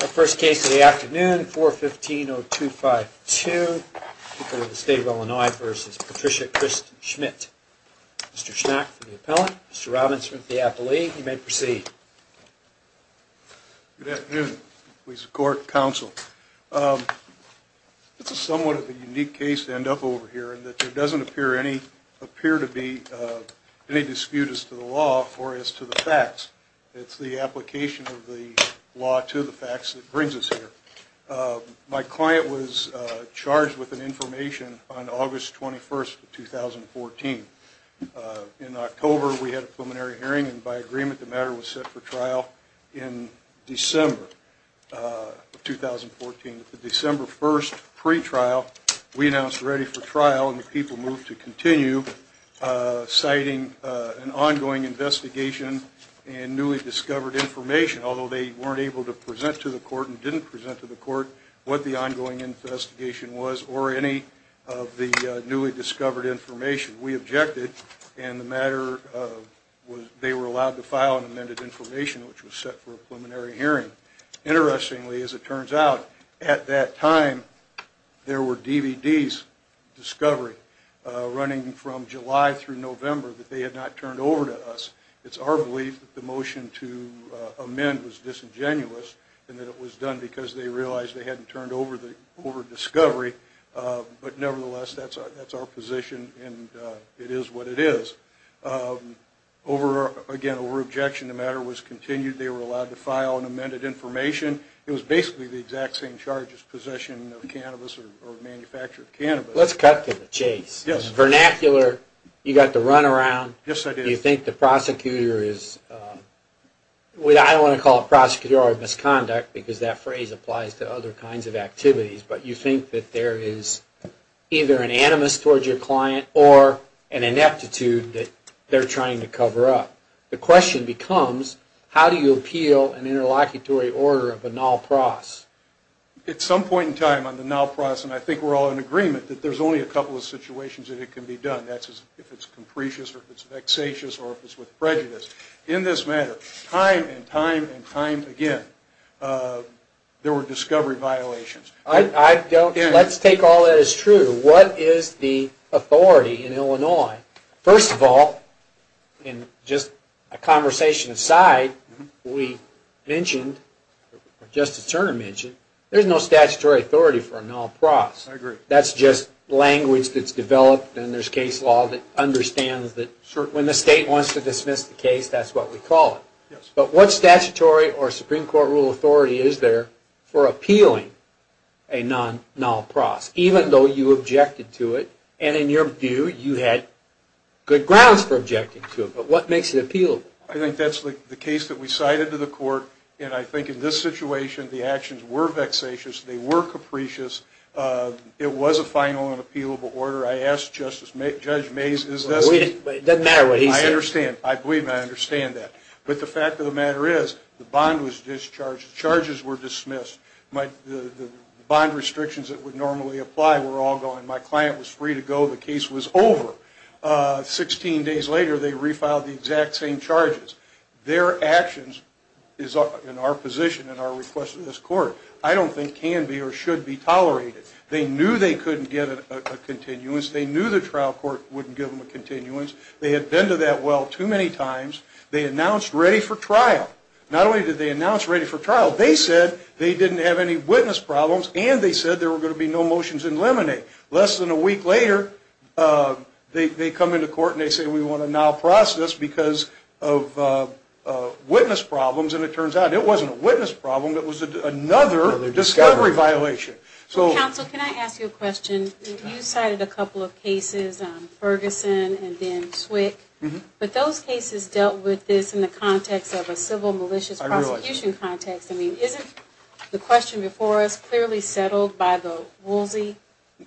Our first case of the afternoon, 415-0252, the State of Illinois v. Patricia Crist-Schmitt. Mr. Schmack for the appellant, Mr. Robbins for the appellee. You may proceed. Robbins Good afternoon. This is somewhat of a unique case to end up over here in that there doesn't appear to be any dispute as to the law or as to the facts. It's the application of the law to the facts that brings us here. My client was charged with an information on August 21, 2014. In October we had a preliminary hearing and by agreement the matter was set for trial in December of 2014. At the December 1st pre-trial we announced ready for trial and the people moved to continue citing an ongoing investigation and newly discovered information, although they weren't able to present to the court and didn't present to the court what the ongoing investigation was or any of the newly discovered information. We objected and they were allowed to file an amended information which was set for a preliminary hearing. Interestingly, as it turns out, at that time there were DVDs, Discovery, running from July through November that they had not turned over to us. It's our belief that the motion to amend was disingenuous and that it was done because they realized they hadn't turned over Discovery, but nevertheless that's our position and it is what it is. Again, over objection the matter was continued. They were allowed to file an amended information. It was basically the exact same charge as possession of cannabis or manufacture of cannabis. Let's cut to the chase. Vernacular, you got the run around, you think the prosecutor is, I don't want to call it prosecutor of misconduct because that phrase applies to other kinds of activities, but you think that there is either an animus towards your client or an ineptitude that they're trying to cover up. The question becomes, how do you appeal an interlocutory order of a null pros? At some point in time on the null pros, and I think we're all in agreement, that there's only a couple of situations that it can be done. That's if it's capricious or if it's vexatious or if it's with prejudice. In this matter, time and time and time again, there were Discovery violations. Let's take all that as true. What is the authority in Illinois? First of all, and just a conversation aside, we mentioned, Justice Turner mentioned, there's no statutory authority for a null pros. That's just language that's developed and there's case law that understands that when the state wants to dismiss the case, that's what we call it. But what statutory or Supreme Court rule authority is there for appealing a non-null pros, even though you objected to it and in your view, you had good grounds for objecting to it, but what makes it appealable? I think that's the case that we cited to the court, and I think in this situation, the actions were vexatious. They were capricious. It was a final and appealable order. I asked Judge Mays, I believe I understand that. But the fact of the matter is, the bond was discharged, charges were dismissed. The bond restrictions that would normally apply were all gone. My client was free to go. The case was over. Sixteen days later, they refiled the exact same charges. Their actions is in our position and our request to this court. I don't think can be or should be tolerated. They knew they couldn't get a continuance. They knew the trial court wouldn't give them a continuance. They had been to that well too many times. They announced ready for trial. Not only did they announce ready for trial, they said they didn't have any witness problems and they said there were going to be no motions in limine. Less than a week later, they come into court and they say we want to now process because of witness problems, and it turns out it wasn't a witness problem, it was another discovery violation. Counsel, can I ask you a question? You cited a couple of cases, Ferguson and then Swick, but those cases dealt with this in the context of a civil malicious prosecution context. I mean, isn't the question before us clearly settled by the Woolsey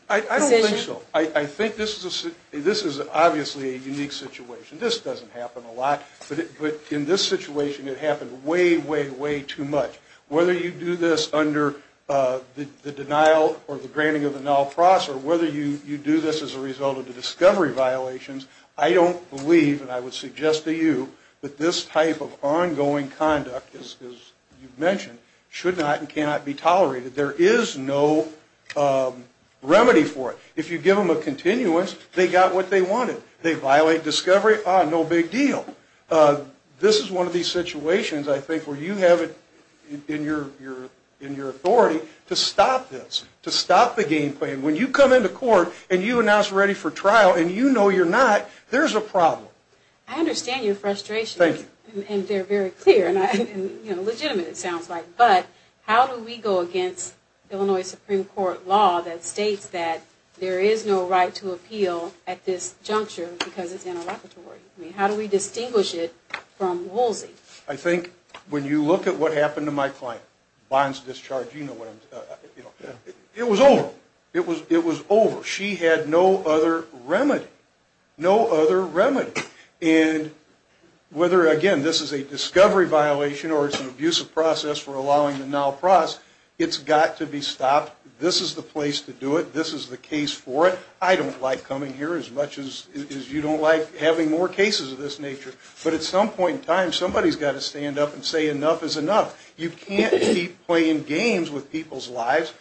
position? I think so. I think this is obviously a unique situation. This doesn't happen a lot, but in this situation it happened way, way, way too much. Whether you do this under the denial or the granting of the null process, or whether you do this as a result of the discovery violations, I don't believe, and I would suggest to you, that this type of ongoing conduct, as you mentioned, should not and cannot be tolerated. There is no remedy for it. If you give them a continuance, they got what they wanted. They violate discovery, ah, no big deal. This is one of these situations, I think, where you have it in your authority to stop this, to stop the game plan. When you come into court and you announce ready for trial and you know you're not, there's a problem. I understand your frustration. Thank you. And they're very clear and, you know, legitimate it sounds like, but how do we go against Illinois Supreme Court law that states that there is no right to appeal at this juncture because it's interlocutory? I mean, how do we distinguish it from Woolsey? I think when you look at what happened to my client, bonds discharge, you know what I'm talking about. It was over. It was over. She had no other remedy. No other remedy. And whether, again, this is a discovery violation or it's an abusive process for allowing the null process, it's got to be stopped. This is the place to do it. This is the case for it. I don't like coming here as much as you don't like having more cases of this nature. But at some point in time, somebody's got to stand up and say enough is enough. You can't keep playing games with people's lives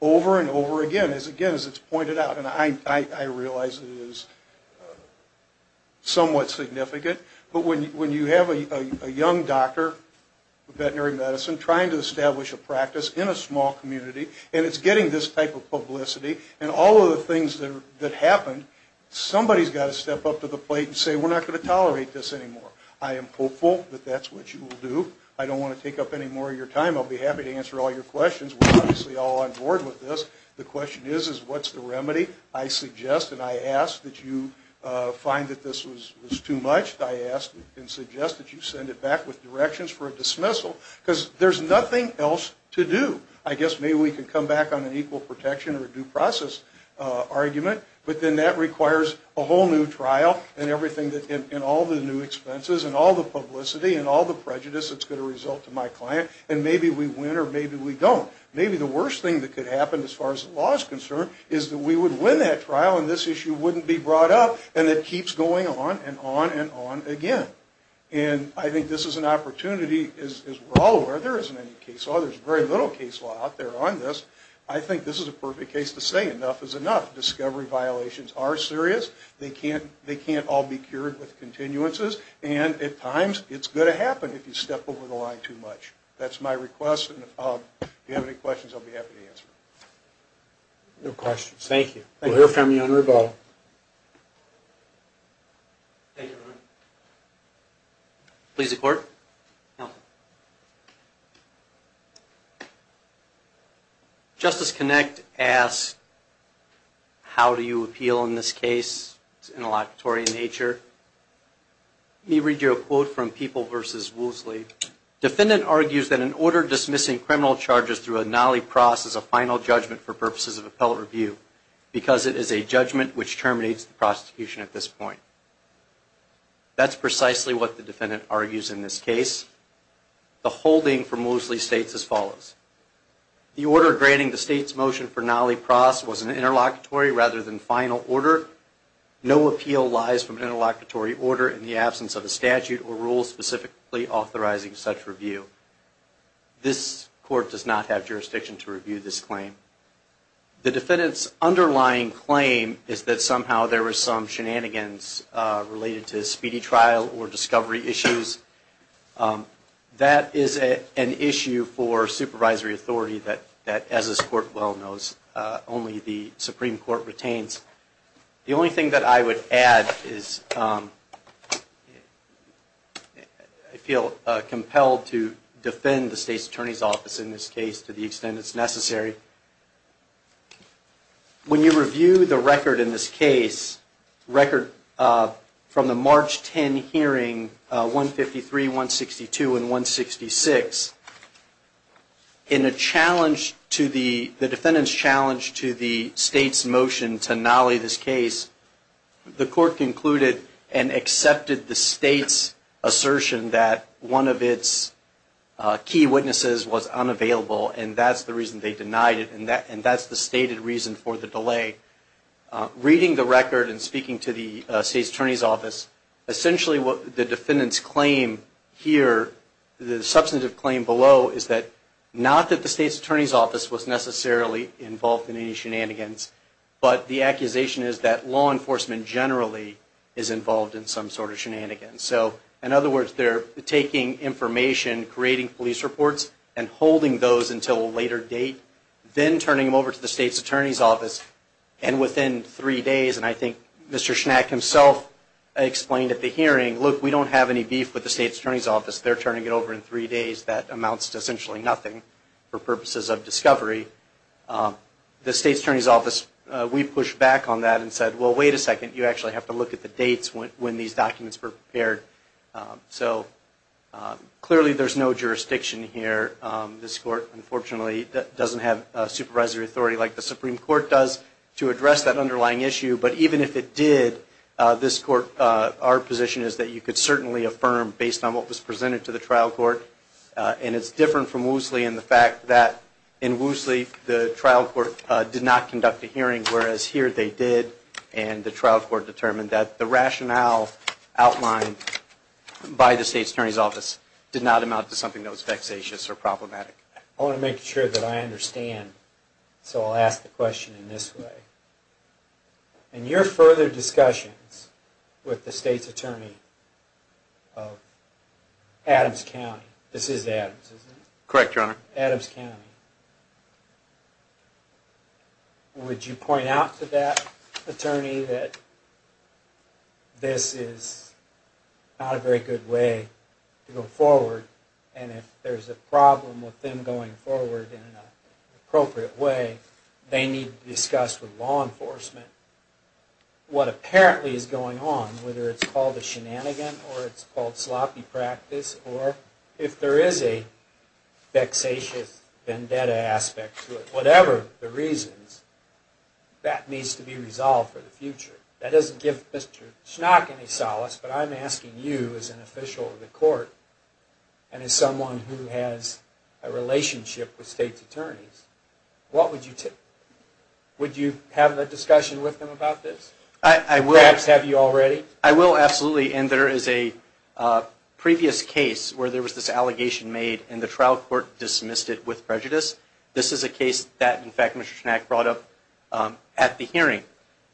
over and over again, again, as it's pointed out. And I realize it is somewhat significant. But when you have a young doctor of veterinary medicine trying to establish a practice in a small community and it's getting this type of publicity and all of the things that happened, somebody's got to step up to the plate and say we're not going to tolerate this anymore. I am hopeful that that's what you will do. I don't want to take up any more of your time. I'll be happy to answer all your questions. We're obviously all on board with this. The question is, what's the remedy? I suggest and I ask that you find that this was too much. I ask and suggest that you send it back with directions for a dismissal. Because there's nothing else to do. I guess maybe we can come back on an equal protection or a due process argument. But then that requires a whole new trial and all the new expenses and all the publicity and all the prejudice that's going to result to my client. And maybe we win or maybe we don't. Maybe the worst thing that could happen as far as the law is concerned is that we would win that trial and this issue wouldn't be brought up and it keeps going on and on and on again. And I think this is an opportunity, as we're all aware, there isn't any case law. There's very little case law out there on this. I think this is a perfect case to say enough is enough. Discovery violations are serious. They can't all be cured with continuances. And at times it's going to happen if you step over the line too much. That's my hope. That's my request. And if you have any questions, I'll be happy to answer them. No questions. Thank you. We'll hear from you on rebuttal. Thank you. Please report. Justice Connick asks, how do you appeal in this case? It's interlocutory in nature. Let me read you a quote from People v. Woosley. Defendant argues that an order dismissing criminal charges through a nollie pros is a final judgment for purposes of appellate review because it is a judgment which terminates the prosecution at this point. That's precisely what the defendant argues in this case. The holding from Woosley states as follows. The order granting the state's motion for nollie pros was an interlocutory rather than final order. No appeal lies from an interlocutory order in the absence of a statute or rule specifically authorizing such review. This court does not have jurisdiction to review this claim. The defendant's underlying claim is that somehow there were some shenanigans related to speedy trial or discovery issues. That is an issue for supervisory authority that, as this court well knows, only the Supreme Court retains. The only thing that I would add is I feel compelled to defend the state's attorney's office in this case to the extent it's necessary. When you review the record in this case, record from the March 10 hearing, 153, 162, and 166, in the defendant's challenge to the state's motion to nollie this case, the court concluded and accepted the state's assertion that one of its key witnesses was unavailable, and that's the reason they denied it. And that's the stated reason for the delay. Reading the record and speaking to the state's attorney's office, essentially what the defendant's claim here, the substantive claim below, is that not that the state's attorney's office was necessarily involved in any shenanigans, but the accusation is that law enforcement generally is involved in some sort of shenanigans. So, in other words, they're taking information, creating police reports, and holding those until a later date, then turning them over to the state's attorney's office, and within three days, and I think Mr. Schnack himself explained at the hearing, look, we don't have any beef with the state's attorney's office. They're turning it over in three days. That amounts to essentially nothing for purposes of discovery. The state's attorney's office, we pushed back on that and said, well, wait a second. You actually have to look at the dates when these documents were prepared. So, clearly there's no jurisdiction here. This court, unfortunately, doesn't have supervisory authority like the Supreme Court does to address that underlying issue, but even if it did, this court, our position is that you could certainly affirm based on what was presented to the trial court, and it's different from Woosley in the fact that in Woosley, the trial court did not conduct a hearing, whereas here they did, and the trial court determined that the rationale outlined by the state's attorney's office did not amount to something that was vexatious or problematic. I want to make sure that I understand, so I'll ask the question in this way. In your further discussions with the state's attorney of Adams County, this is Adams, isn't it? Correct, Your Honor. Adams County. Would you point out to that attorney that this is not a very good way to go forward, and if there's a problem with them going forward in an appropriate way, they need to discuss with law enforcement what apparently is going on, whether it's called a shenanigan, or it's called sloppy practice, or if there is a vexatious vendetta aspect to it, whatever the reasons, that needs to be resolved for the future. That doesn't give Mr. Schnock any solace, but I'm asking you as an official of the court, and as someone who has a relationship with state's attorneys, would you have a discussion with them about this? I will. Perhaps have you already? I will, absolutely, and there is a previous case where there was this allegation made, and the trial court dismissed it with prejudice. This is a case that, in fact, Mr. Schnock brought up at the hearing.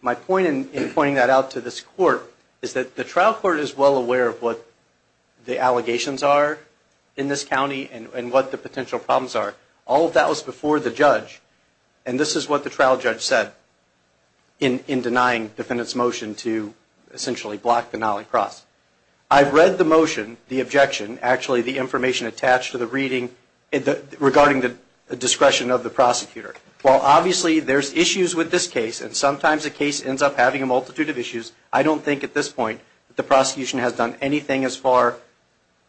My point in pointing that out to this court is that the trial court is well aware of what the allegations are in this county and what the potential problems are. All of that was before the judge, and this is what the trial judge said in denying the defendant's motion to, essentially, block the nollie cross. I've read the motion, the objection, actually the information attached to the reading regarding the discretion of the prosecutor. While obviously there's issues with this case, and sometimes a case ends up having a multitude of issues, I don't think at this point that the prosecution has done anything as far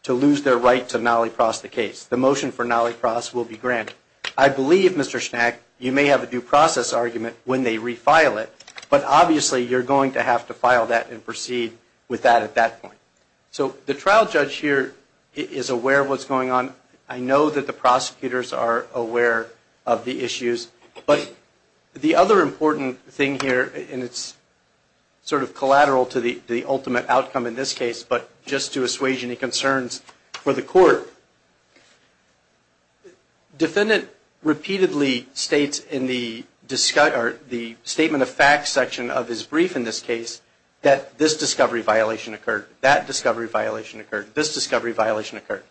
to lose their right to nollie cross the case. The motion for nollie cross will be granted. I believe, Mr. Schnack, you may have a due process argument when they refile it, but obviously you're going to have to file that and proceed with that at that point. So the trial judge here is aware of what's going on. I know that the prosecutors are aware of the issues, but the other important thing here, and it's sort of collateral to the ultimate outcome in this case, but just to assuage any concerns for the court, defendant repeatedly states in the statement of facts section of his brief in this case that this discovery violation occurred, that discovery violation occurred, this discovery violation occurred.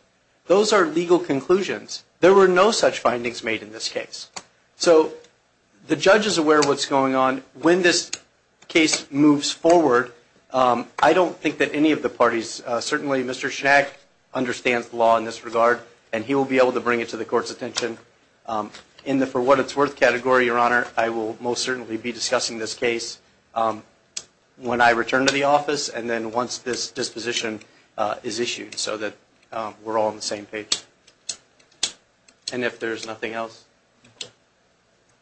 Those are legal conclusions. There were no such findings made in this case. So the judge is aware of what's going on. When this case moves forward, I don't think that any of the parties, certainly Mr. Schnack understands the law in this regard, and he will be able to bring it to the court's attention. In the for what it's worth category, Your Honor, I will most certainly be discussing this case when I return to the office and then once this disposition is issued so that we're all on the same page. And if there's nothing else.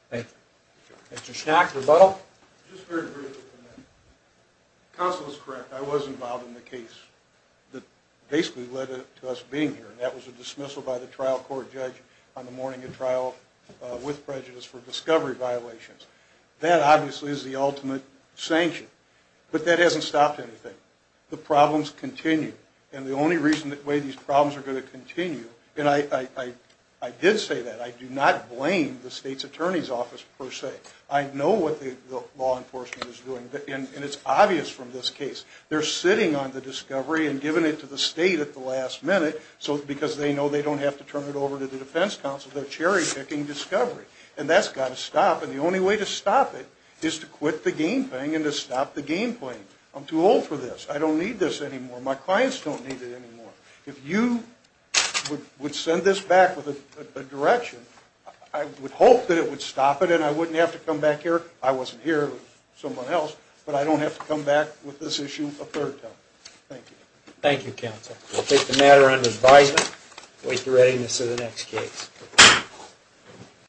Thank you. Mr. Schnack, rebuttal. Just very briefly. Counsel is correct. I was involved in the case that basically led to us being here, and that was a dismissal by the trial court judge on the morning of trial with prejudice for discovery violations. That obviously is the ultimate sanction, but that hasn't stopped anything. The problems continue, and the only reason that way these problems are going to continue, and I did say that, I do not blame the state's attorney's office per se. I know what the law enforcement is doing, and it's obvious from this case. They're sitting on the discovery and giving it to the state at the last minute because they know they don't have to turn it over to the defense counsel. They're cherry-picking discovery, and that's got to stop, and the only way to stop it is to quit the game thing and to stop the game playing. I'm too old for this. I don't need this anymore. My clients don't need it anymore. If you would send this back with a direction, I would hope that it would stop it and I wouldn't have to come back here. I wasn't here. It was someone else, but I don't have to come back with this issue a third time. Thank you. Thank you, counsel. We'll take the matter under advisement and wait for the readiness of the next case.